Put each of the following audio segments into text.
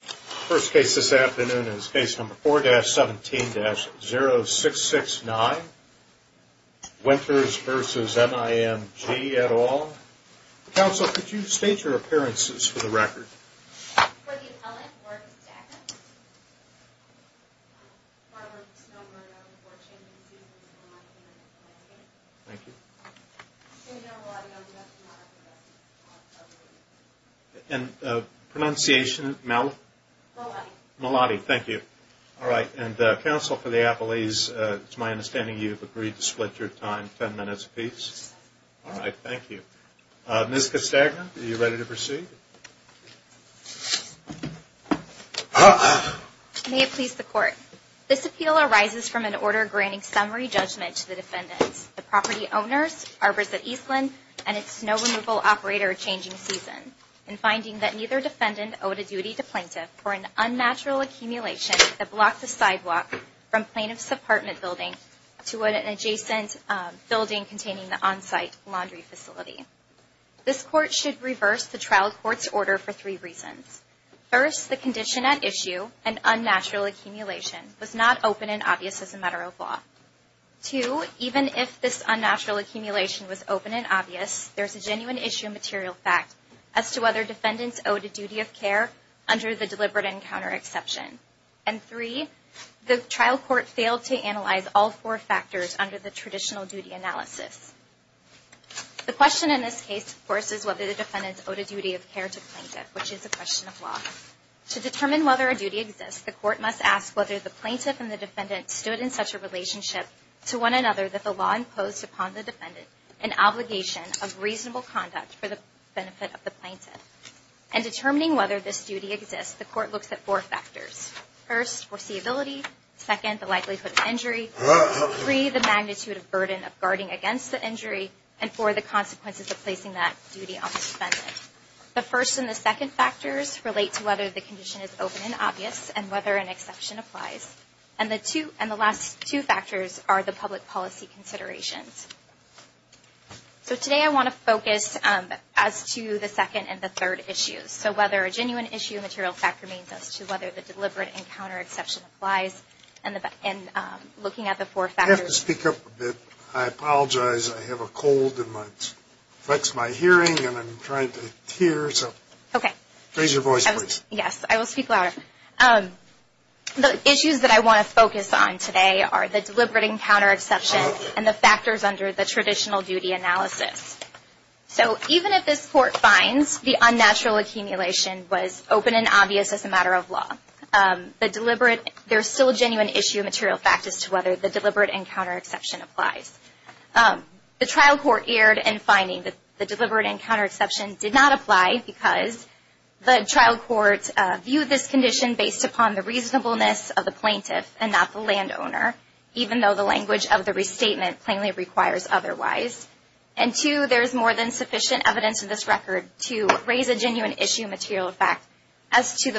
The first case this afternoon is case number 4-17-0669, Winters v. MIMG et al. Counsel, could you state your appearances for the record? Ms. Castagna, are you ready to proceed? May it please the Court, This appeal arises from an order granting summary judgment to the defendants, the property owners, Arbors at Eastland, and its snow removal operator changing season, in finding that neither defendant owed a duty to plaintiff for an unnatural accumulation that blocked the sidewalk from plaintiff's apartment building to an adjacent building containing the on-site laundry facility. This Court should reverse the trial court's order for three reasons. First, the condition at issue, an unnatural accumulation, was not open and obvious as a matter of law. Two, even if this unnatural accumulation was open and obvious, there is a genuine issue and material fact as to whether defendants owed a duty of care under the deliberate encounter exception. And three, the trial court failed to analyze all four factors under the traditional duty analysis. The question in this case, of course, is whether the defendants owed a duty of care to plaintiff, which is a question of law. To determine whether a duty exists, the Court must ask whether the plaintiff and the defendant stood in such a relationship to one another that the law imposed upon the defendant an obligation of reasonable conduct for the benefit of the plaintiff. In determining whether this duty exists, the Court looks at four factors. First, foreseeability. Second, the likelihood of injury. Three, the magnitude of burden of guarding against the injury. And four, the consequences of placing that duty on the defendant. The first and the second factors relate to whether the condition is open and obvious and whether an exception applies. And the last two factors are the public policy considerations. So today I want to focus as to the second and the third issues. So whether a genuine issue and material fact remains as to whether the deliberate encounter exception applies. And looking at the four factors. I have to speak up a bit. I apologize. I have a cold. It affects my hearing and I'm trying to hear. Okay. Raise your voice, please. Yes, I will speak louder. The issues that I want to focus on today are the deliberate encounter exception and the factors under the traditional duty analysis. So even if this Court finds the unnatural accumulation was open and obvious as a matter of law, there's still a genuine issue and material fact as to whether the deliberate encounter exception applies. The trial court erred in finding that the deliberate encounter exception did not apply because the trial court viewed this condition based upon the reasonableness of the plaintiff and not the landowner, even though the language of the restatement plainly requires otherwise. And two, there is more than sufficient evidence in this record to raise a genuine issue and material fact as to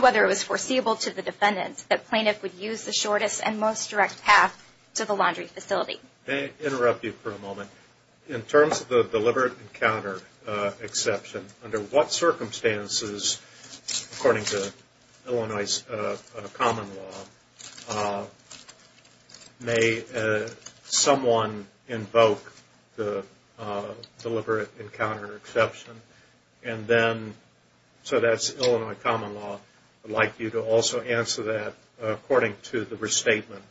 whether it was foreseeable to the defendant that plaintiff would use the shortest and most direct path to the laundry facility. May I interrupt you for a moment? In terms of the deliberate encounter exception, under what circumstances, according to Illinois' common law, may someone invoke the deliberate encounter exception? And then, so that's Illinois' common law. I'd like you to also answer that according to the restatement.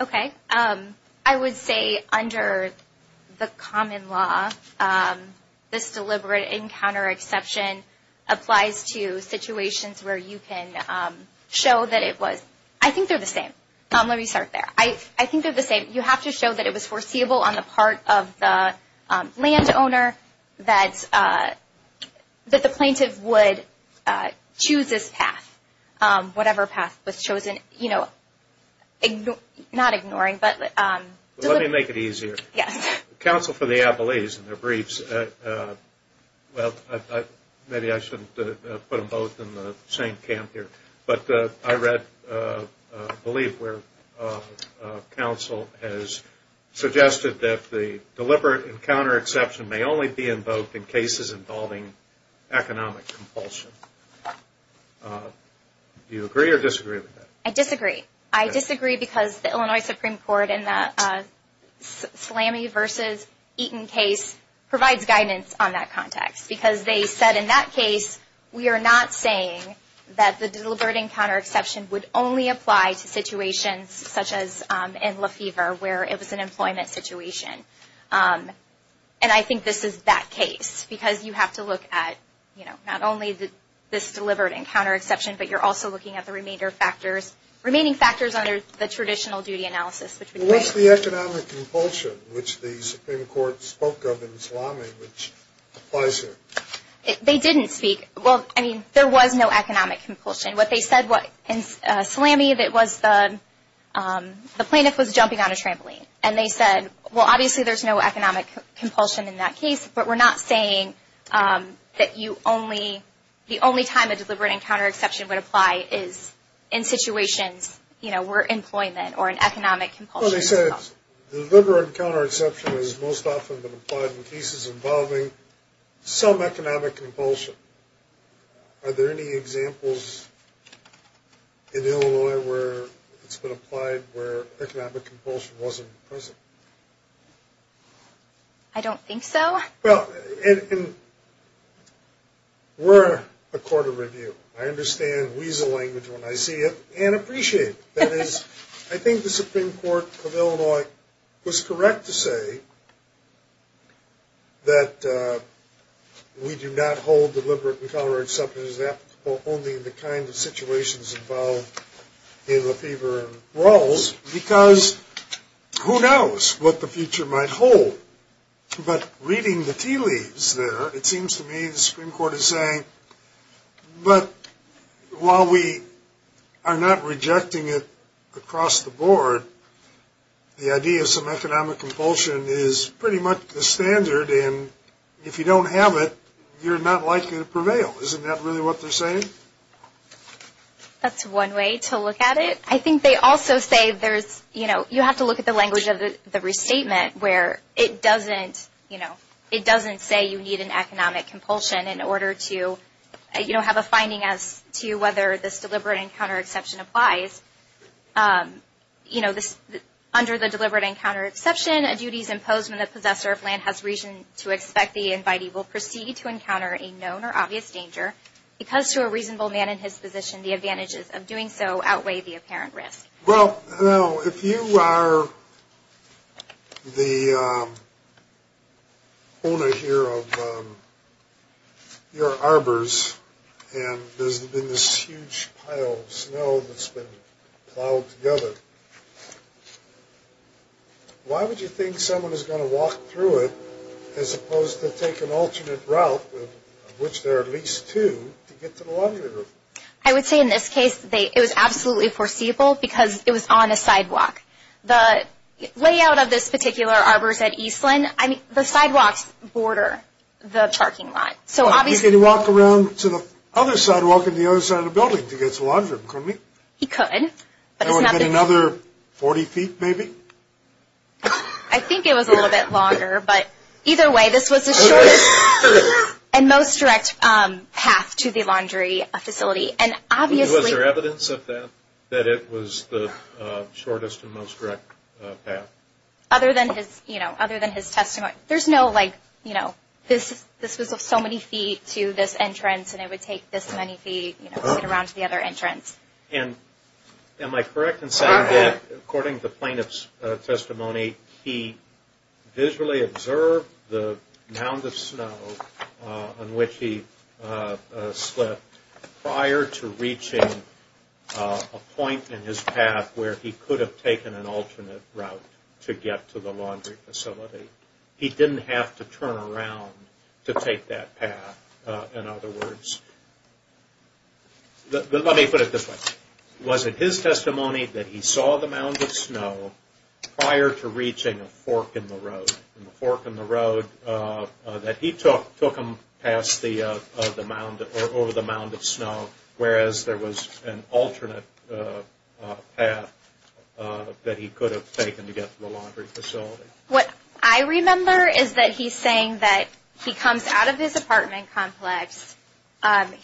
Okay. I would say under the common law, this deliberate encounter exception applies to situations where you can show that it was, I think they're the same. Let me start there. I think they're the same. You have to show that it was foreseeable on the part of the landowner that the plaintiff would choose this path, whatever path was chosen. You know, not ignoring, but deliberate. Let me make it easier. Yes. The counsel for the appellees in their briefs, well, maybe I shouldn't put them both in the same camp here, but I read, I believe, where counsel has suggested that the deliberate encounter exception may only be invoked in cases involving economic compulsion. Do you agree or disagree with that? I disagree. I disagree because the Illinois Supreme Court in the Slammy v. Eaton case provides guidance on that context because they said in that case, we are not saying that the deliberate encounter exception would only apply to situations such as in Lefevre where it was an employment situation. And I think this is that case because you have to look at, you know, not only this deliberate encounter exception, but you're also looking at the remaining factors under the traditional duty analysis. What's the economic compulsion, which the Supreme Court spoke of in the Slammy, which applies here? They didn't speak. Well, I mean, there was no economic compulsion. What they said in the Slammy was the plaintiff was jumping on a trampoline. And they said, well, obviously there's no economic compulsion in that case, but we're not saying that the only time a deliberate encounter exception would apply is in situations, you know, for employment or an economic compulsion. Well, they said the deliberate encounter exception has most often been applied in cases involving some economic compulsion. Are there any examples in Illinois where it's been applied where economic compulsion wasn't present? I don't think so. I understand weasel language when I see it and appreciate it. That is, I think the Supreme Court of Illinois was correct to say that we do not hold deliberate encounter exceptions applicable only in the kind of situations involved in Lefevre and Rawls because who knows what the future might hold. But reading the tea leaves there, it seems to me the Supreme Court is saying, but while we are not rejecting it across the board, the idea of some economic compulsion is pretty much the standard, and if you don't have it, you're not likely to prevail. Isn't that really what they're saying? That's one way to look at it. I think they also say there's, you know, you have to look at the language of the restatement where it doesn't, you know, it doesn't say you need an economic compulsion in order to, you know, have a finding as to whether this deliberate encounter exception applies. You know, under the deliberate encounter exception, a duty is imposed when the possessor of land has reason to expect the invitee will proceed to encounter a known or obvious danger because to a reasonable man in his position, the advantages of doing so outweigh the apparent risk. Well, if you are the owner here of your arbors and there's been this huge pile of snow that's been plowed together, why would you think someone is going to walk through it as opposed to take an alternate route, of which there are at least two, to get to the laundry room? I would say in this case, it was absolutely foreseeable because it was on a sidewalk. The layout of this particular arbors at Eastland, I mean, the sidewalks border the parking lot. So obviously… He could walk around to the other sidewalk on the other side of the building to get to the laundry room, couldn't he? He could. Another 40 feet, maybe? I think it was a little bit longer, but either way, this was the shortest and most direct path to the laundry facility. And obviously… Was there evidence of that, that it was the shortest and most direct path? Other than his, you know, other than his testimony. There's no, like, you know, this was so many feet to this entrance and it would take this many feet to get around to the other entrance. And am I correct in saying that, according to the plaintiff's testimony, he visually observed the mound of snow on which he slipped prior to reaching a point in his path where he could have taken an alternate route to get to the laundry facility. He didn't have to turn around to take that path. In other words… Let me put it this way. Was it his testimony that he saw the mound of snow prior to reaching a fork in the road? And the fork in the road that he took took him past the mound, or over the mound of snow, whereas there was an alternate path that he could have taken to get to the laundry facility. What I remember is that he's saying that he comes out of his apartment complex.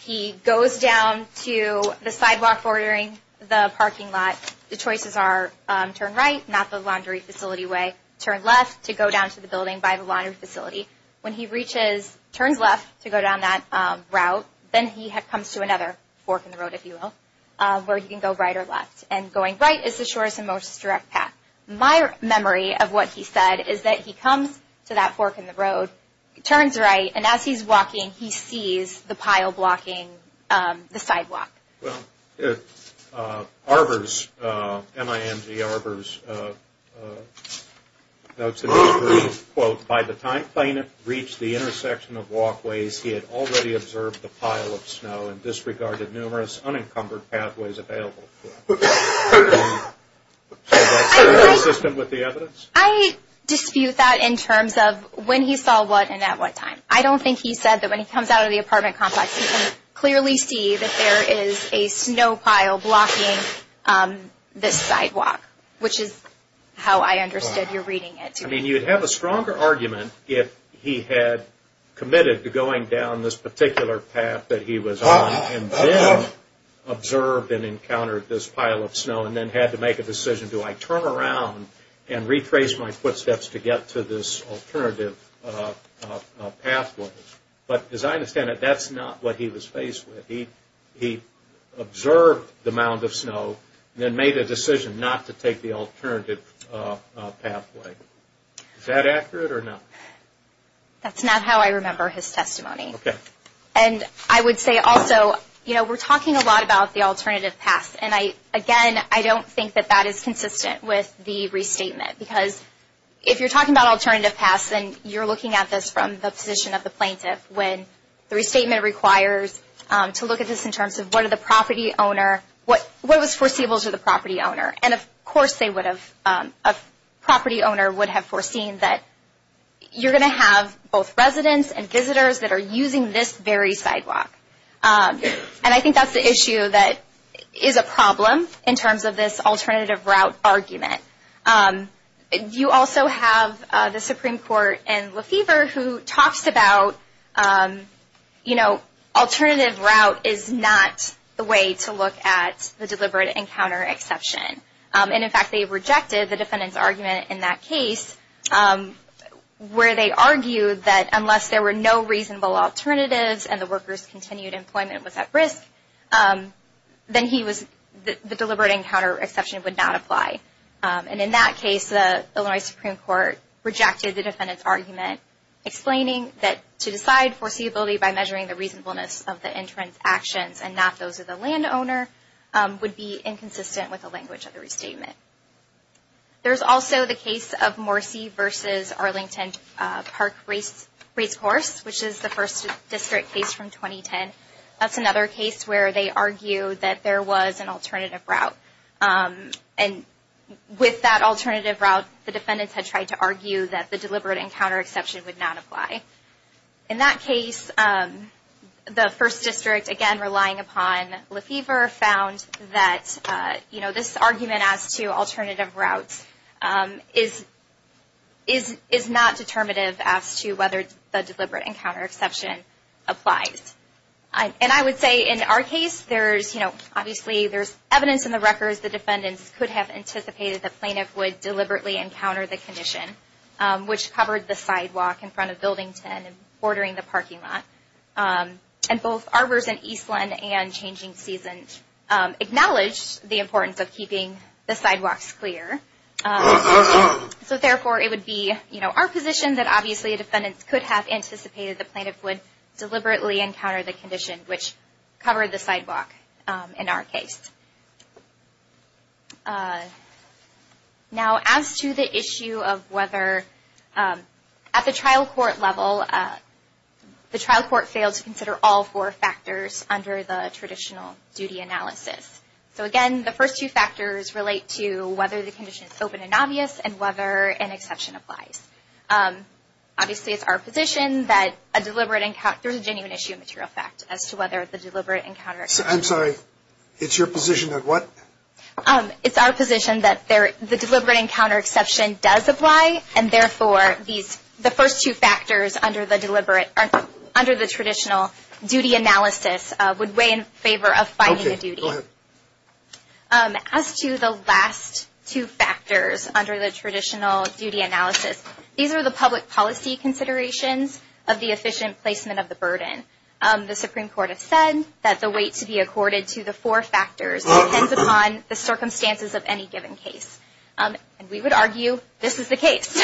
He goes down to the sidewalk bordering the parking lot. The choices are turn right, not the laundry facility way. Turn left to go down to the building by the laundry facility. When he reaches, turns left to go down that route, then he comes to another fork in the road, if you will, where he can go right or left. And going right is the shortest and most direct path. My memory of what he said is that he comes to that fork in the road, turns right, and as he's walking, he sees the pile blocking the sidewalk. Well, Arbor's, M-I-N-G Arbor's notes that he's reading, quote, by the time Plano reached the intersection of walkways, he had already observed the pile of snow and disregarded numerous unencumbered pathways available. Is that consistent with the evidence? I dispute that in terms of when he saw what and at what time. I don't think he said that when he comes out of the apartment complex, he can clearly see that there is a snow pile blocking this sidewalk, which is how I understood you're reading it. I mean, you'd have a stronger argument if he had committed to going down this particular path that he was on and then observed and encountered this pile of snow and then had to make a decision, do I turn around and retrace my footsteps to get to this alternative pathway? But as I understand it, that's not what he was faced with. He observed the mound of snow and then made a decision not to take the alternative pathway. Is that accurate or not? That's not how I remember his testimony. Okay. And I would say also, you know, we're talking a lot about the alternative path. And, again, I don't think that that is consistent with the restatement because if you're talking about alternative paths, then you're looking at this from the position of the plaintiff when the restatement requires to look at this in terms of what was foreseeable to the property owner. And, of course, a property owner would have foreseen that you're going to have both residents and visitors that are using this very sidewalk. And I think that's the issue that is a problem in terms of this alternative route argument. You also have the Supreme Court in Lefevre who talks about, you know, alternative route is not the way to look at the deliberate encounter exception. And, in fact, they rejected the defendant's argument in that case where they argued that unless there were no reasonable alternatives and the worker's continued employment was at risk, then the deliberate encounter exception would not apply. And in that case, the Illinois Supreme Court rejected the defendant's argument explaining that to decide foreseeability by measuring the reasonableness of the entrance actions and not those of the land owner would be inconsistent with the language of the restatement. There's also the case of Morrissey v. Arlington Park Racecourse, which is the first district case from 2010. That's another case where they argue that there was an alternative route. And with that alternative route, the defendants had tried to argue that the deliberate encounter exception would not apply. In that case, the first district, again relying upon Lefevre, found that, you know, this argument as to alternative routes is not determinative as to whether the deliberate encounter exception applies. And I would say in our case, there's, you know, obviously there's evidence in the records the defendants could have anticipated the plaintiff would deliberately encounter the condition, which covered the sidewalk in front of Building 10 and bordering the parking lot. And both Arbors and Eastland and Changing Seasons acknowledge the importance of keeping the sidewalks clear. So therefore, it would be, you know, our position that obviously a defendant could have anticipated the plaintiff would deliberately encounter the condition, which covered the sidewalk in our case. Now, as to the issue of whether, at the trial court level, the trial court failed to consider all four factors under the traditional duty analysis. So again, the first two factors relate to whether the condition is open and obvious and whether an exception applies. Obviously, it's our position that a deliberate encounter, there's a genuine issue of material fact as to whether the deliberate encounter. I'm sorry, it's your position that what? It's our position that the deliberate encounter exception does apply. And therefore, the first two factors under the deliberate, under the traditional duty analysis would weigh in favor of finding a duty. Okay, go ahead. As to the last two factors under the traditional duty analysis, these are the public policy considerations of the efficient placement of the burden. The Supreme Court has said that the weight to be accorded to the four factors depends upon the circumstances of any given case. And we would argue this is the case.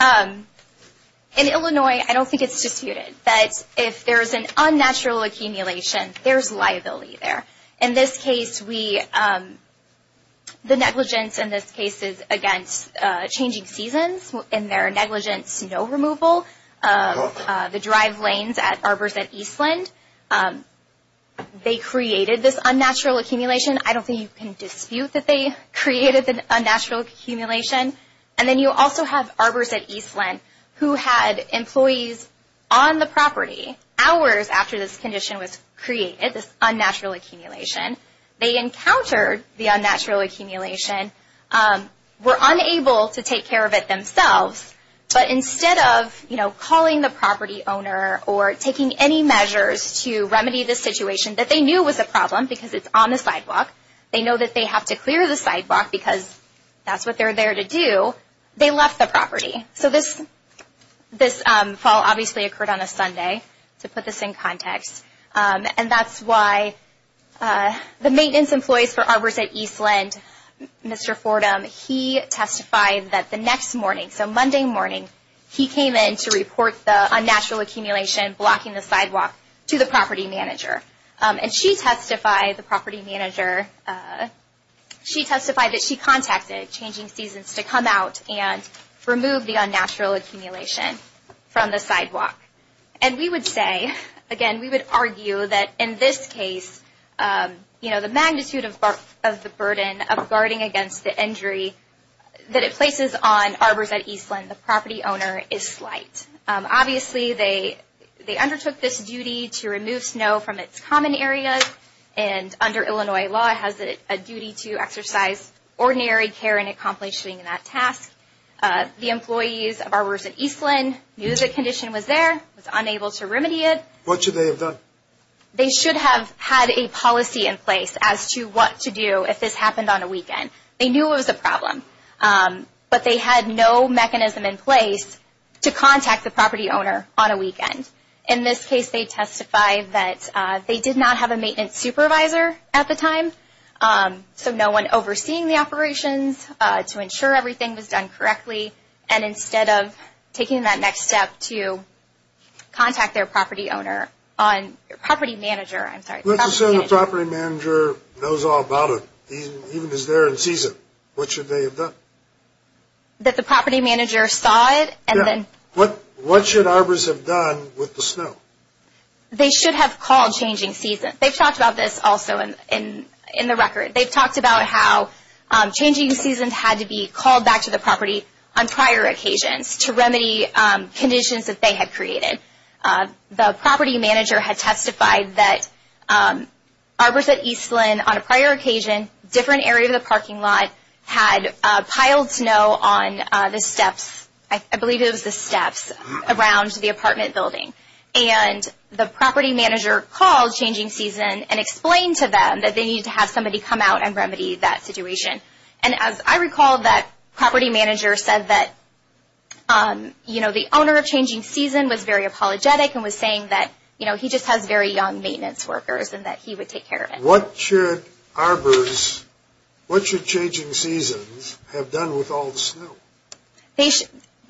In Illinois, I don't think it's disputed that if there's an unnatural accumulation, there's liability there. In this case, we, the negligence in this case is against changing seasons and their negligence, no removal of the drive lanes at Arbors at Eastland. They created this unnatural accumulation. I don't think you can dispute that they created the unnatural accumulation. And then you also have Arbors at Eastland who had employees on the property hours after this condition was created, this unnatural accumulation. They encountered the unnatural accumulation, were unable to take care of it themselves. But instead of, you know, calling the property owner or taking any measures to remedy the situation that they knew was a problem because it's on the sidewalk, they know that they have to clear the sidewalk because that's what they're there to do, they left the property. So this fall obviously occurred on a Sunday, to put this in context. And that's why the maintenance employees for Arbors at Eastland, Mr. Fordham, he testified that the next morning, so Monday morning, he came in to report the unnatural accumulation blocking the sidewalk to the property manager. And she testified, the property manager, she testified that she contacted Changing Seasons to come out and remove the unnatural accumulation from the sidewalk. And we would say, again, we would argue that in this case, you know, the magnitude of the burden of guarding against the injury that it places on Arbors at Eastland, the property owner is slight. Obviously, they undertook this duty to remove snow from its common areas. And under Illinois law, it has a duty to exercise ordinary care in accomplishing that task. The employees of Arbors at Eastland knew the condition was there, was unable to remedy it. What should they have done? They should have had a policy in place as to what to do if this happened on a weekend. They knew it was a problem, but they had no mechanism in place to contact the property owner on a weekend. In this case, they testified that they did not have a maintenance supervisor at the time, so no one overseeing the operations to ensure everything was done correctly. And instead of taking that next step to contact their property manager. Let's assume the property manager knows all about it, even is there and sees it. What should they have done? That the property manager saw it, and then. What should Arbors have done with the snow? They should have called Changing Seasons. They've talked about this also in the record. They've talked about how Changing Seasons had to be called back to the property on prior occasions to remedy conditions that they had created. The property manager had testified that Arbors at Eastland on a prior occasion, different area of the parking lot had piled snow on the steps. I believe it was the steps around the apartment building. The property manager called Changing Seasons and explained to them that they needed to have somebody come out and remedy that situation. As I recall, that property manager said that the owner of Changing Seasons was very apologetic and was saying that he just has very young maintenance workers and that he would take care of it. What should Arbors, what should Changing Seasons have done with all the snow?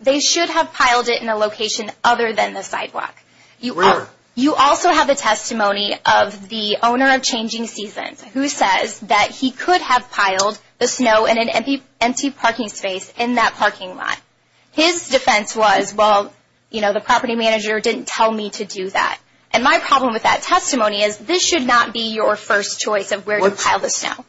They should have piled it in a location other than the sidewalk. Where? You also have the testimony of the owner of Changing Seasons, who says that he could have piled the snow in an empty parking space in that parking lot. His defense was, well, you know, the property manager didn't tell me to do that. And my problem with that testimony is this should not be your first choice of where to pile the snow.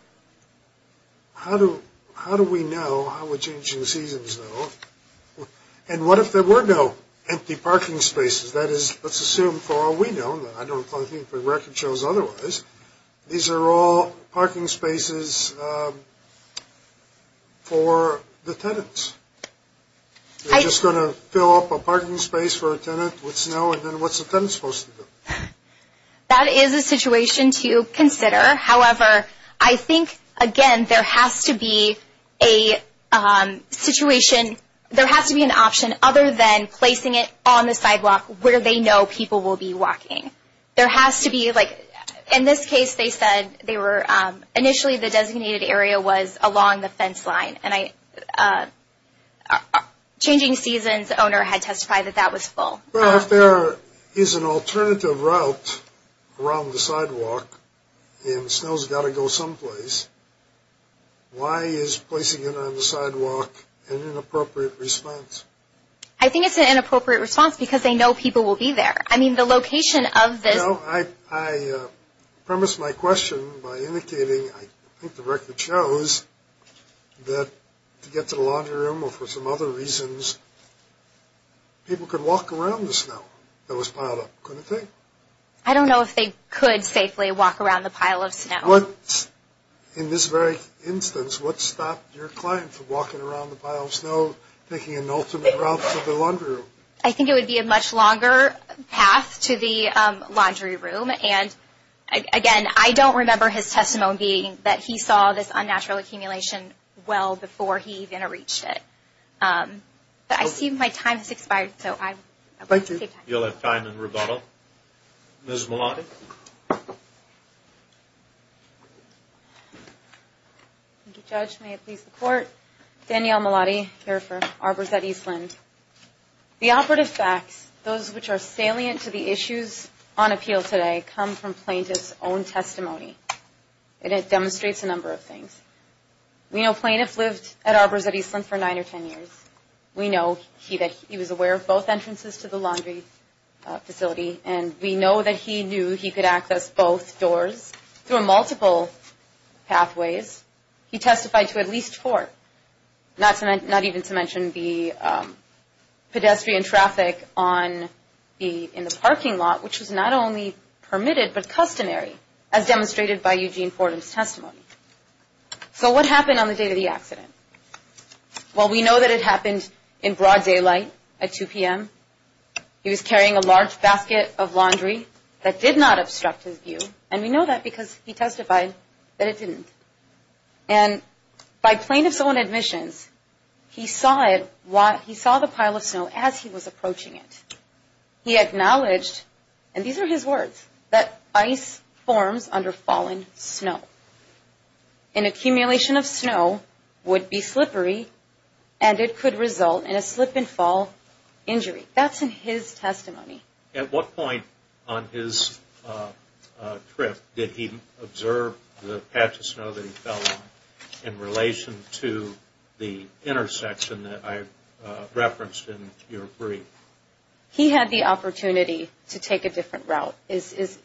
How do we know how would Changing Seasons know? And what if there were no empty parking spaces? That is, let's assume for all we know, and I don't think the record shows otherwise, these are all parking spaces for the tenants. They're just going to fill up a parking space for a tenant with snow, and then what's the tenant supposed to do? That is a situation to consider. However, I think, again, there has to be a situation, there has to be an option other than placing it on the sidewalk where they know people will be walking. There has to be, like, in this case they said they were, initially the designated area was along the fence line, and Changing Seasons' owner had testified that that was full. Well, if there is an alternative route around the sidewalk and snow's got to go someplace, why is placing it on the sidewalk an inappropriate response? I think it's an inappropriate response because they know people will be there. I mean, the location of this. You know, I premise my question by indicating, I think the record shows, that to get to the laundry room or for some other reasons, people could walk around the snow that was piled up, couldn't they? I don't know if they could safely walk around the pile of snow. In this very instance, what stopped your client from walking around the pile of snow, taking an alternate route to the laundry room? I think it would be a much longer path to the laundry room, and again, I don't remember his testimony being that he saw this unnatural accumulation well before he even reached it. I see my time has expired, so I'd like to save time. You'll have time in rebuttal. Ms. Malati. Thank you, Judge. May it please the Court. Danielle Malati, here for Arbors at Eastland. The operative facts, those which are salient to the issues on appeal today, come from plaintiff's own testimony, and it demonstrates a number of things. We know plaintiffs lived at Arbors at Eastland for nine or ten years. We know he was aware of both entrances to the laundry facility, and we know that he knew he could access both doors through multiple pathways. He testified to at least four, not even to mention the pedestrian traffic in the parking lot, which was not only permitted but customary, as demonstrated by Eugene Fordham's testimony. So what happened on the day of the accident? Well, we know that it happened in broad daylight at 2 p.m. He was carrying a large basket of laundry that did not obstruct his view, and we know that because he testified that it didn't. And by plaintiff's own admissions, he saw the pile of snow as he was approaching it. He acknowledged, and these are his words, that ice forms under fallen snow. An accumulation of snow would be slippery, and it could result in a slip and fall injury. That's in his testimony. At what point on his trip did he observe the patch of snow that he fell on in relation to the intersection that I referenced in your brief? He had the opportunity to take a different route, is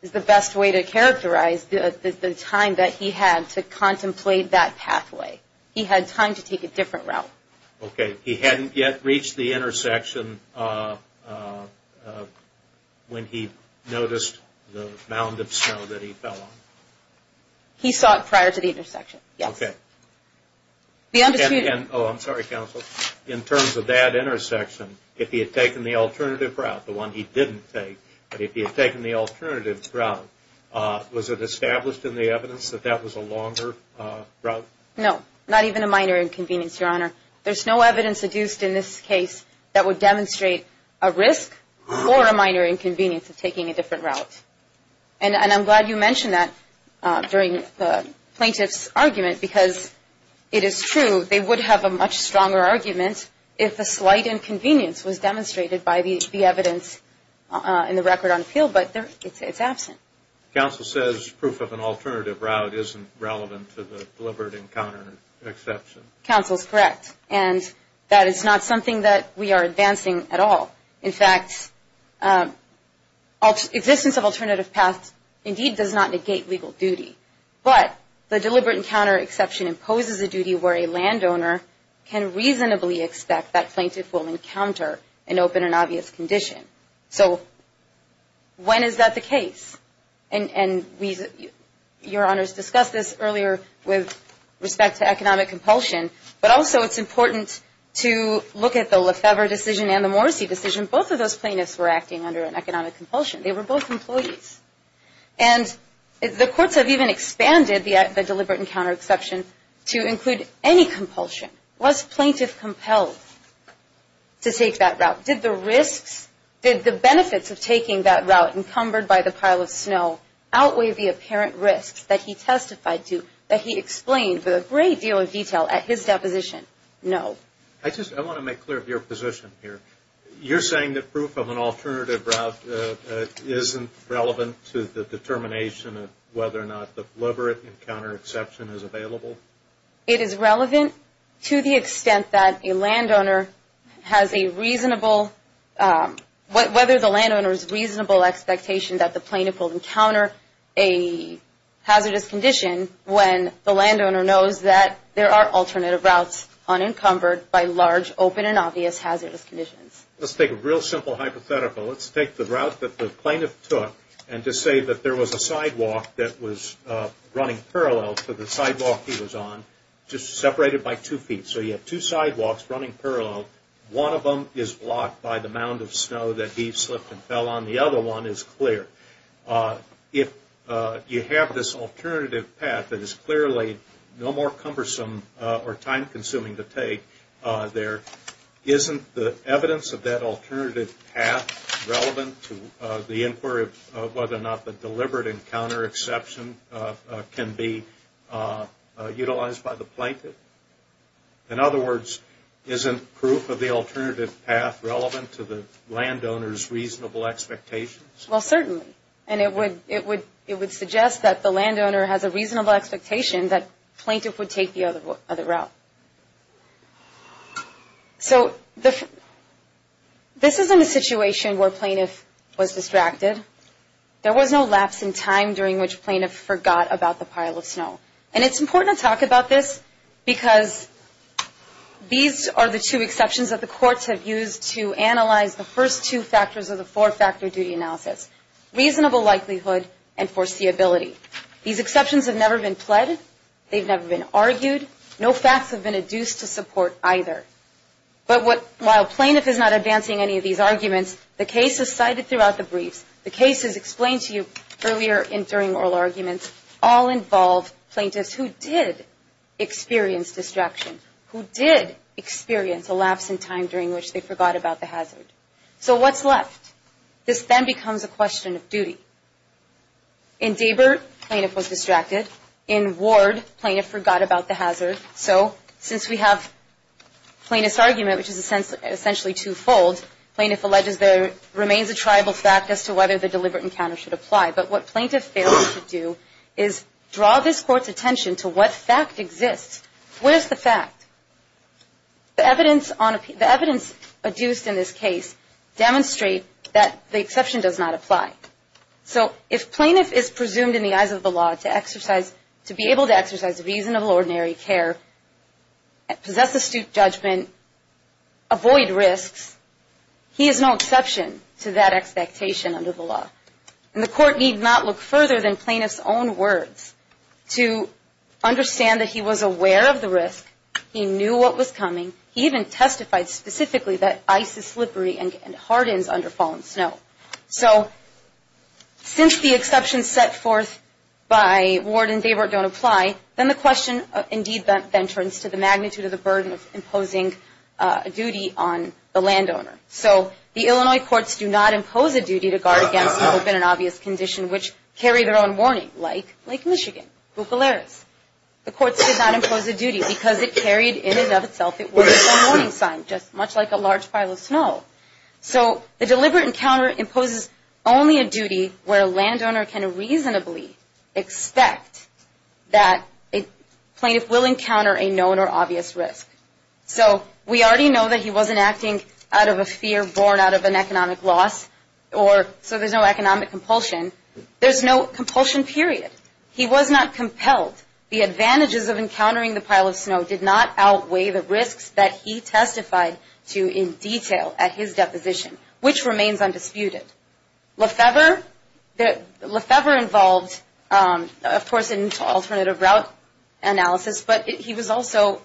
the best way to characterize the time that he had to contemplate that pathway. He had time to take a different route. Okay, he hadn't yet reached the intersection when he noticed the mound of snow that he fell on. He saw it prior to the intersection, yes. Oh, I'm sorry, counsel. In terms of that intersection, if he had taken the alternative route, the one he didn't take, but if he had taken the alternative route, was it established in the evidence that that was a longer route? No, not even a minor inconvenience, Your Honor. There's no evidence adduced in this case that would demonstrate a risk or a minor inconvenience of taking a different route. And I'm glad you mentioned that during the plaintiff's argument because it is true, they would have a much stronger argument if a slight inconvenience was demonstrated by the evidence in the record on appeal, but it's absent. Counsel says proof of an alternative route isn't relevant to the deliberate encounter exception. Counsel is correct, and that is not something that we are advancing at all. In fact, existence of alternative paths indeed does not negate legal duty, but the deliberate encounter exception imposes a duty where a landowner can reasonably expect that plaintiff will encounter an open and obvious condition. So when is that the case? And Your Honors discussed this earlier with respect to economic compulsion, but also it's important to look at the Lefebvre decision and the Morrissey decision. Both of those plaintiffs were acting under an economic compulsion. They were both employees. And the courts have even expanded the deliberate encounter exception to include any compulsion. Was plaintiff compelled to take that route? Did the risks, did the benefits of taking that route encumbered by the pile of snow outweigh the apparent risks that he testified to, that he explained with a great deal of detail at his deposition? No. I just want to make clear of your position here. You're saying that proof of an alternative route isn't relevant to the determination of whether or not the deliberate encounter exception is available? It is relevant to the extent that a landowner has a reasonable, whether the landowner's reasonable expectation that the plaintiff will encounter a hazardous condition when the landowner knows that there are alternative routes unencumbered by large, open and obvious hazardous conditions. Let's take a real simple hypothetical. Let's take the route that the plaintiff took and just say that there was a sidewalk that was running parallel to the sidewalk he was on, just separated by two feet. So you have two sidewalks running parallel. One of them is blocked by the mound of snow that he slipped and fell on. The other one is clear. If you have this alternative path that is clearly no more cumbersome or time-consuming to take, there isn't the evidence of that alternative path relevant to the inquiry of whether or not the deliberate encounter exception can be utilized by the plaintiff? In other words, isn't proof of the alternative path relevant to the landowner's reasonable expectations? Well, certainly, and it would suggest that the landowner has a reasonable expectation that the plaintiff would take the other route. So this isn't a situation where the plaintiff was distracted. There was no lapse in time during which plaintiff forgot about the pile of snow. And it's important to talk about this because these are the two exceptions that the courts have used to analyze the first two factors of the four-factor duty analysis, reasonable likelihood and foreseeability. These exceptions have never been pled. They've never been argued. No facts have been adduced to support either. But while plaintiff is not advancing any of these arguments, the cases cited throughout the briefs, the cases explained to you earlier in during oral arguments, all involve plaintiffs who did experience distraction, who did experience a lapse in time during which they forgot about the hazard. So what's left? This then becomes a question of duty. In Dabur, plaintiff was distracted. In Ward, plaintiff forgot about the hazard. So since we have plaintiff's argument, which is essentially twofold, plaintiff alleges there remains a triable fact as to whether the deliberate encounter should apply. But what plaintiff failed to do is draw this court's attention to what fact exists. Where's the fact? The evidence adduced in this case demonstrate that the exception does not apply. So if plaintiff is presumed in the eyes of the law to exercise, to be able to exercise reasonable ordinary care, possess astute judgment, avoid risks, he is no exception to that expectation under the law. And the court need not look further than plaintiff's own words to understand that he was aware of the risk. He knew what was coming. He even testified specifically that ice is slippery and hardens under falling snow. So since the exceptions set forth by Ward and Dabur don't apply, then the question of, indeed, the entrance to the magnitude of the burden of imposing a duty on the landowner. So the Illinois courts do not impose a duty to guard against people in an obvious condition, which carry their own warning, like Lake Michigan, Bucolaris. The courts did not impose a duty because it carried in and of itself its own warning sign, just much like a large pile of snow. So the deliberate encounter imposes only a duty where a landowner can reasonably expect that a plaintiff will encounter a known or obvious risk. So we already know that he wasn't acting out of a fear born out of an economic loss, or so there's no economic compulsion. There's no compulsion, period. He was not compelled. The advantages of encountering the pile of snow did not outweigh the risks that he testified to in detail at his deposition, which remains undisputed. Lefevre involved, of course, in alternative route analysis, but he was also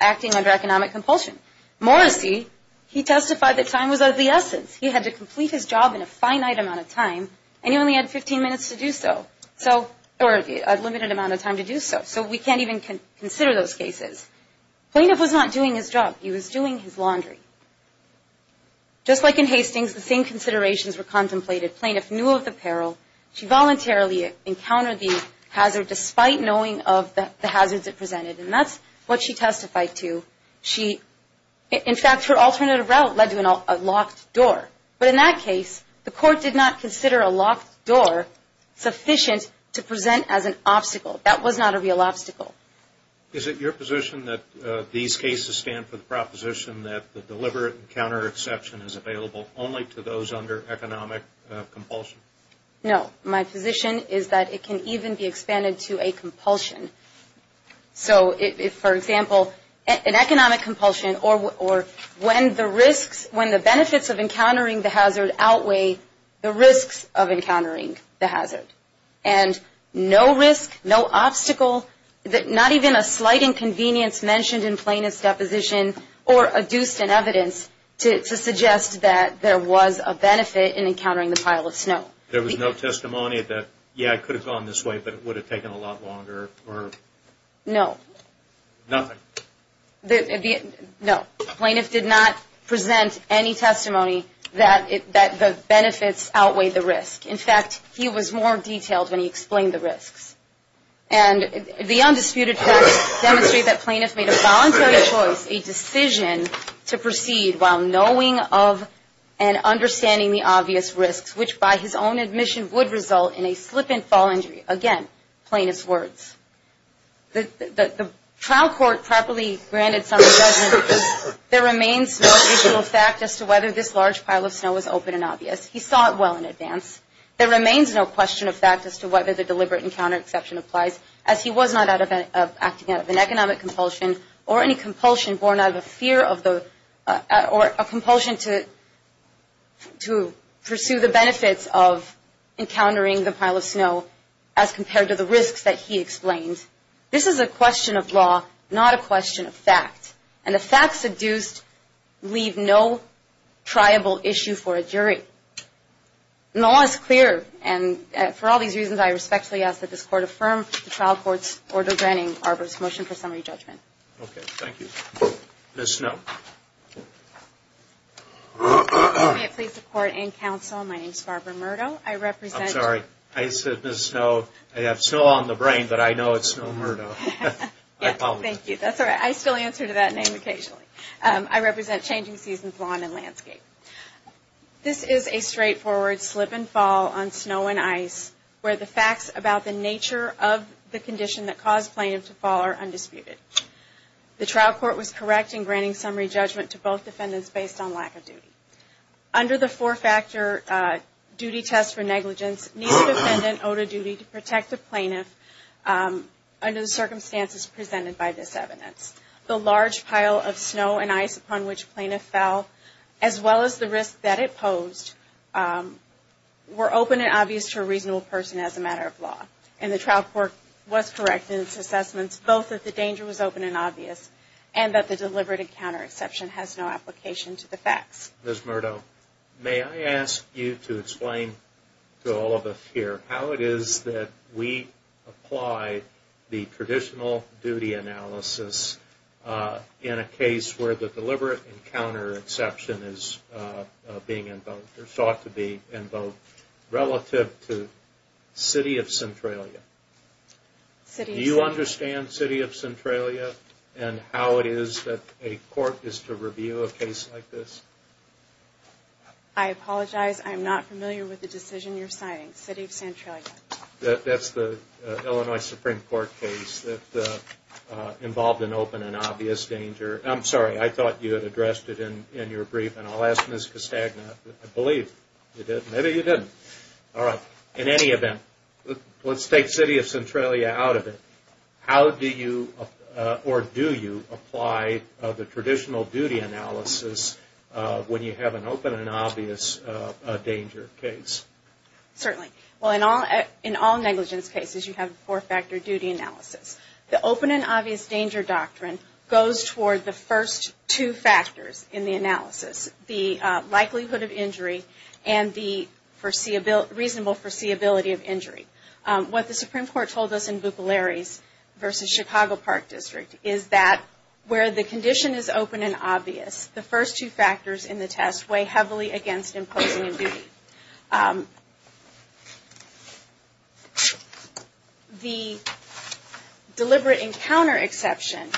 acting under economic compulsion. Morrissey, he testified that time was of the essence. He had to complete his job in a finite amount of time, and he only had 15 minutes to do so, or a limited amount of time to do so, so we can't even consider those cases. The plaintiff was not doing his job. He was doing his laundry. Just like in Hastings, the same considerations were contemplated. The plaintiff knew of the peril. She voluntarily encountered the hazard despite knowing of the hazards it presented, and that's what she testified to. In fact, her alternative route led to a locked door, but in that case the court did not consider a locked door sufficient to present as an obstacle. That was not a real obstacle. Is it your position that these cases stand for the proposition that the deliberate encounter exception is available only to those under economic compulsion? No. My position is that it can even be expanded to a compulsion. So if, for example, an economic compulsion or when the risks, when the benefits of encountering the hazard outweigh the risks of encountering the hazard, and no risk, no obstacle, not even a slight inconvenience mentioned in plaintiff's deposition or adduced in evidence to suggest that there was a benefit in encountering the pile of snow. There was no testimony that, yeah, it could have gone this way, but it would have taken a lot longer or? No. Nothing? No. Plaintiff did not present any testimony that the benefits outweigh the risk. In fact, he was more detailed when he explained the risks. And the undisputed facts demonstrate that plaintiff made a voluntary choice, a decision to proceed while knowing of and understanding the obvious risks, which by his own admission would result in a slip and fall injury. Again, plaintiff's words. The trial court properly granted some judgment because there remains no additional fact as to whether this large pile of snow was open and obvious. He saw it well in advance. There remains no question of fact as to whether the deliberate encounter exception applies, as he was not acting out of an economic compulsion or any compulsion borne out of a fear or a compulsion to pursue the benefits of encountering the pile of snow as compared to the risks that he explained. This is a question of law, not a question of fact. And the facts induced leave no triable issue for a jury. Law is clear, and for all these reasons, I respectfully ask that this court affirm the trial court's order granting Barber's motion for summary judgment. Okay, thank you. Ms. Snow. May it please the court and counsel, my name is Barbara Murdo. I represent. I'm sorry. I said Ms. Snow. I have snow on the brain, but I know it's Snow Murdo. I apologize. Thank you. That's all right. I still answer to that name occasionally. I represent Changing Seasons Lawn and Landscape. This is a straightforward slip and fall on snow and ice, where the facts about the nature of the condition that caused plaintiff to fall are undisputed. The trial court was correct in granting summary judgment to both defendants based on lack of duty. Under the four-factor duty test for negligence, each defendant owed a duty to protect the plaintiff under the circumstances presented by this evidence. The large pile of snow and ice upon which plaintiff fell, as well as the risk that it posed, were open and obvious to a reasonable person as a matter of law. And the trial court was correct in its assessments both that the danger was open and obvious and that the deliberate encounter exception has no application to the facts. Ms. Murdo, may I ask you to explain to all of us here how it is that we apply the traditional duty analysis in a case where the deliberate encounter exception is being invoked, or sought to be invoked, relative to City of Centralia? Do you understand City of Centralia and how it is that a court is to review a case like this? I apologize, I am not familiar with the decision you're signing. City of Centralia. That's the Illinois Supreme Court case that involved an open and obvious danger. I'm sorry, I thought you had addressed it in your brief, and I'll ask Ms. Castagna. I believe you did. Maybe you didn't. All right. In any event, let's take City of Centralia out of it. How do you, or do you, apply the traditional duty analysis when you have an open and obvious danger case? Certainly. Well, in all negligence cases, you have a four-factor duty analysis. The open and obvious danger doctrine goes toward the first two factors in the analysis, the likelihood of injury and the reasonable foreseeability of injury. What the Supreme Court told us in Buklari's v. Chicago Park District is that where the condition is open and obvious, the first two factors in the test weigh heavily against imposing a duty. The deliberate encounter exception,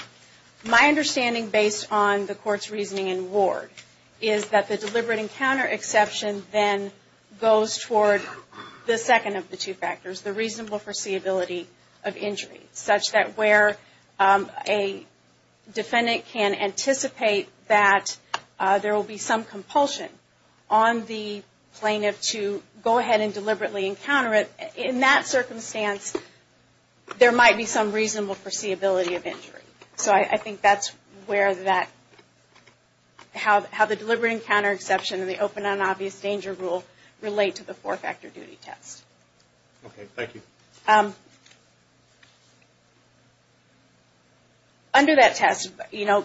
my understanding based on the court's reasoning in Ward, is that the deliberate encounter exception then goes toward the second of the two factors, the reasonable foreseeability of injury, such that where a defendant can anticipate that there will be some compulsion on the plaintiff to go ahead and deliberately encounter it, in that circumstance, there might be some reasonable foreseeability of injury. So I think that's where that, how the deliberate encounter exception and the open and obvious danger rule relate to the four-factor duty test. Okay, thank you. Under that test, you know,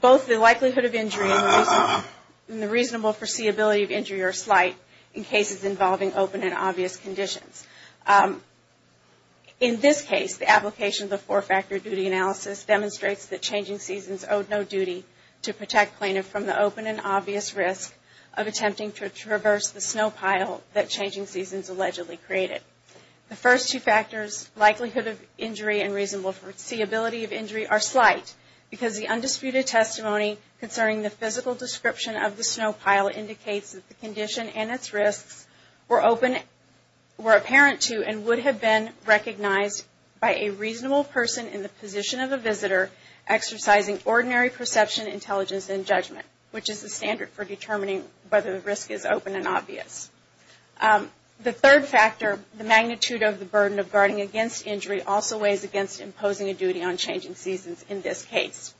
both the likelihood of injury and the reasonable foreseeability of injury are slight in cases involving open and obvious conditions. In this case, the application of the four-factor duty analysis demonstrates that changing seasons owe no duty to protect plaintiff from the open and obvious risk of attempting to traverse the snow pile that changing seasons allegedly created. The first two factors, likelihood of injury and reasonable foreseeability of injury, are slight because the undisputed testimony concerning the physical description of the snow pile indicates that the condition and its risks were apparent to and would have been recognized by a reasonable person in the position of a visitor exercising ordinary perception, intelligence, and judgment, which is the standard for determining whether the risk is open and obvious. The third factor, the magnitude of the burden of guarding against injury, also weighs against imposing a duty on changing seasons in this case.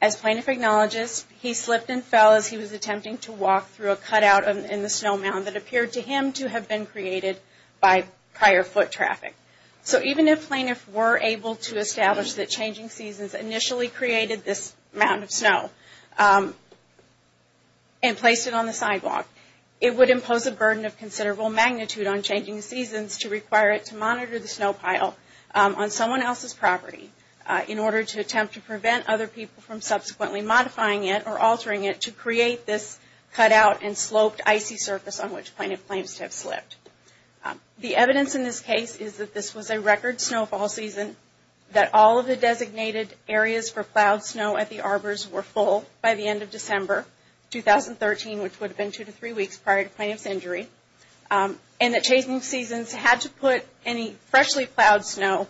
As plaintiff acknowledges, he slipped and fell as he was attempting to walk through a cutout in the snow mound that appeared to him to have been created by prior foot traffic. So even if plaintiffs were able to establish that changing seasons initially created this mound of snow and placed it on the sidewalk, it would impose a burden of considerable magnitude on changing seasons to require it to monitor the snow pile on someone else's property in order to attempt to prevent other people from subsequently modifying it or altering it to create this cutout and sloped icy surface on which plaintiff claims to have slipped. The evidence in this case is that this was a record snowfall season, that all of the designated areas for plowed snow at the arbors were full by the end of December 2013, which would have been two to three weeks prior to plaintiff's injury, and that changing seasons had to put any freshly plowed snow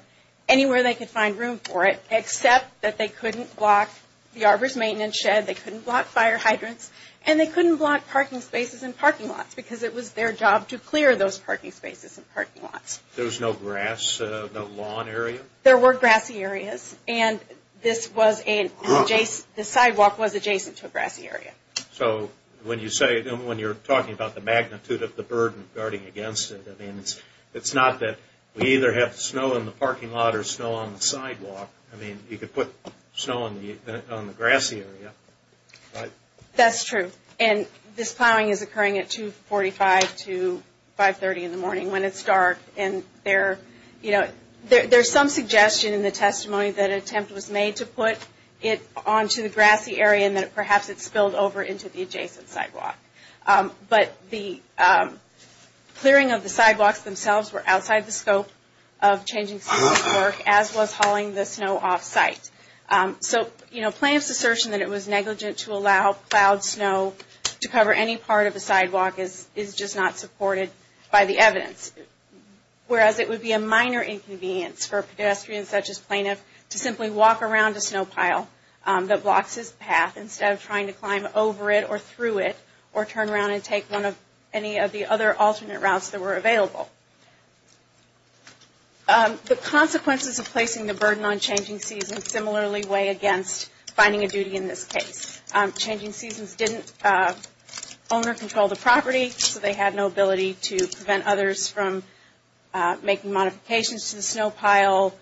anywhere they could find room for it except that they couldn't block the arbor's maintenance shed, they couldn't block fire hydrants, and they couldn't block parking spaces and parking lots because it was their job to clear those parking spaces and parking lots. There was no grass, no lawn area? There were grassy areas, and this sidewalk was adjacent to a grassy area. So when you're talking about the magnitude of the burden guarding against it, it's not that we either have snow in the parking lot or snow on the sidewalk. I mean, you could put snow on the grassy area, right? That's true, and this plowing is occurring at 245 to 530 in the morning when it's dark, and there's some suggestion in the testimony that an attempt was made to put it onto the grassy area and that perhaps it spilled over into the adjacent sidewalk. But the clearing of the sidewalks themselves were outside the scope of changing seasons work, as was hauling the snow offsite. So, you know, plaintiff's assertion that it was negligent to allow plowed snow to cover any part of the sidewalk is just not supported by the evidence, whereas it would be a minor inconvenience for pedestrians such as plaintiff to simply walk around a snow pile that blocks his path instead of trying to climb over it or through it or turn around and take any of the other alternate routes that were available. The consequences of placing the burden on changing seasons similarly weigh against finding a duty in this case. Changing seasons didn't own or control the property, so they had no ability to prevent others from making modifications to the snow pile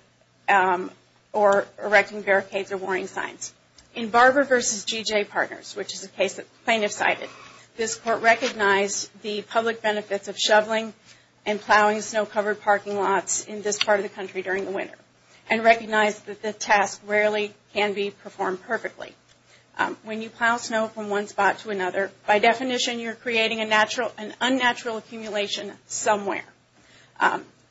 or erecting barricades or warning signs. In Barber v. GJ Partners, which is a case that the plaintiff cited, this court recognized the public benefits of shoveling and plowing snow-covered parking lots in this part of the country during the winter and recognized that the task rarely can be performed perfectly. When you plow snow from one spot to another, by definition you're creating an unnatural accumulation somewhere.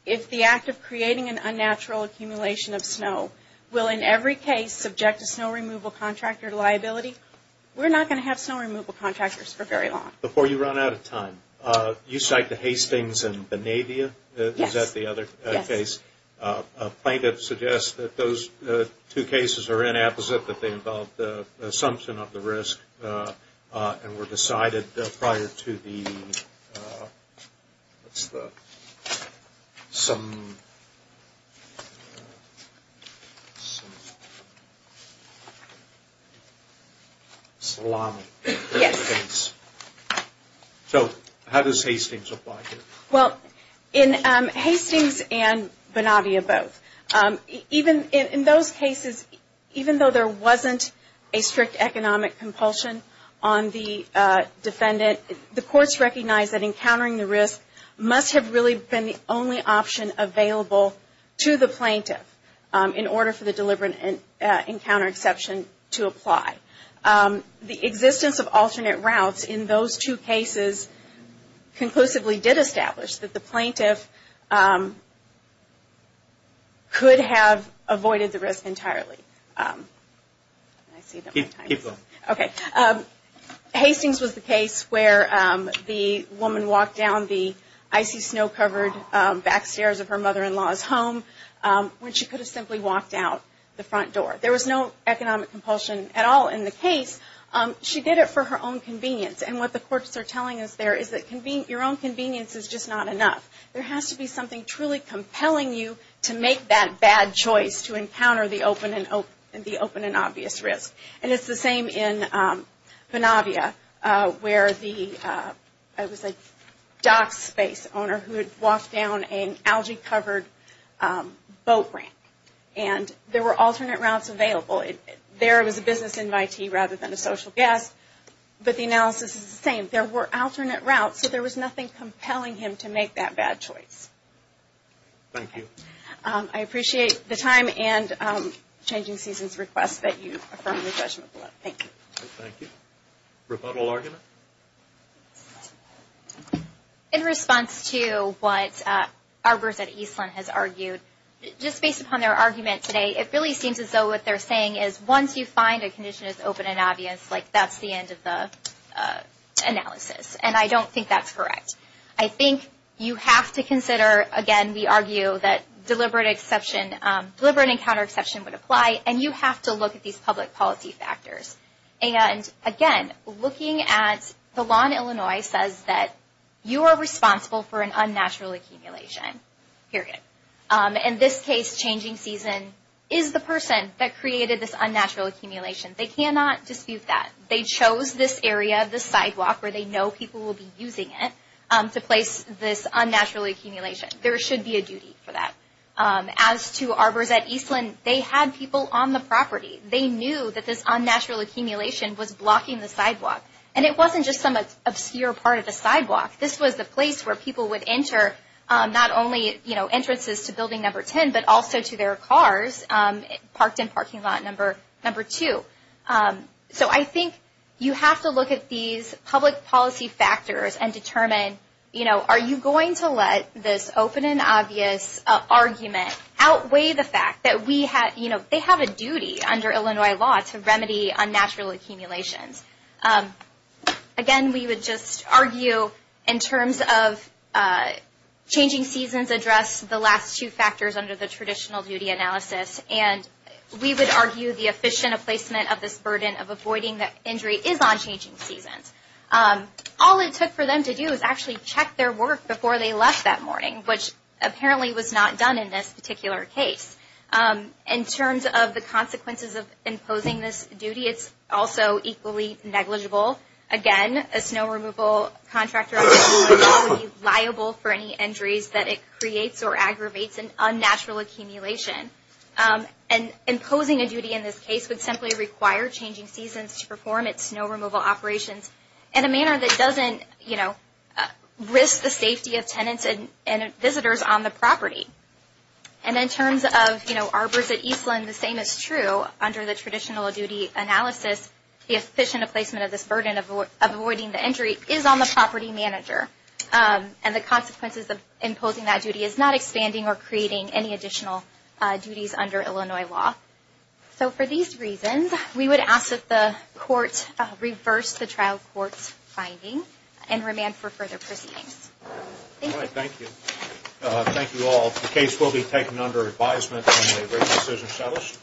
If the act of creating an unnatural accumulation of snow will in every case subject a snow removal contractor to liability, we're not going to have snow removal contractors for very long. Before you run out of time, you cite the Hastings and Bonavia? Is that the other case? Yes. A plaintiff suggests that those two cases are inapposite, that they involve the assumption of the risk and were decided prior to the? Salami. Yes. So how does Hastings apply here? Well, in Hastings and Bonavia both, in those cases, even though there wasn't a strict economic compulsion on the defendant, the courts recognized that encountering the risk must have really been the only option available to the plaintiff in order for the deliberate encounter exception to apply. The existence of alternate routes in those two cases conclusively did establish that the plaintiff could have avoided the risk entirely. Hastings was the case where the woman walked down the icy snow-covered back stairs of her mother-in-law's home when she could have simply walked out the front door. There was no economic compulsion at all in the case. She did it for her own convenience. And what the courts are telling us there is that your own convenience is just not enough. There has to be something truly compelling you to make that bad choice to encounter the open and obvious risk. And it's the same in Bonavia where the, I would say, dock space owner who had walked down an algae-covered boat ramp. And there were alternate routes available. There was a business invitee rather than a social guest, but the analysis is the same. There were alternate routes, so there was nothing compelling him to make that bad choice. Thank you. I appreciate the time and changing seasons request that you affirm the judgment below. Thank you. Thank you. Rebuttal argument? In response to what Arbers at Eastland has argued, just based upon their argument today, it really seems as though what they're saying is once you find a condition as open and obvious, like that's the end of the analysis. And I don't think that's correct. I think you have to consider, again, we argue that deliberate exception, deliberate and counter-exception would apply, and you have to look at these public policy factors. And, again, looking at the law in Illinois says that you are responsible for an unnatural accumulation, period. In this case, changing season is the person that created this unnatural accumulation. They cannot dispute that. They chose this area, this sidewalk where they know people will be using it, to place this unnatural accumulation. There should be a duty for that. As to Arbers at Eastland, they had people on the property. They knew that this unnatural accumulation was blocking the sidewalk. And it wasn't just some obscure part of the sidewalk. This was the place where people would enter not only entrances to building number 10, but also to their cars parked in parking lot number 2. So I think you have to look at these public policy factors and determine, you know, are you going to let this open and obvious argument outweigh the fact that we have, you know, they have a duty under Illinois law to remedy unnatural accumulations. Again, we would just argue in terms of changing seasons address the last two factors under the traditional duty analysis. And we would argue the efficient placement of this burden of avoiding the injury is on changing seasons. All it took for them to do is actually check their work before they left that morning, which apparently was not done in this particular case. In terms of the consequences of imposing this duty, it's also equally negligible. Again, a snow removal contractor would be liable for any injuries that it creates or aggravates an unnatural accumulation. And imposing a duty in this case would simply require changing seasons to perform its snow removal operations in a manner that doesn't, you know, risk the safety of tenants and visitors on the property. And in terms of, you know, arbors at Eastland, the same is true. Under the traditional duty analysis, the efficient placement of this burden of avoiding the injury is on the property manager. And the consequences of imposing that duty is not expanding or creating any additional duties under Illinois law. So for these reasons, we would ask that the court reverse the trial court's finding and remand for further proceedings. Thank you. All right, thank you. Thank you all. The case will be taken under advisement in a written decision settles.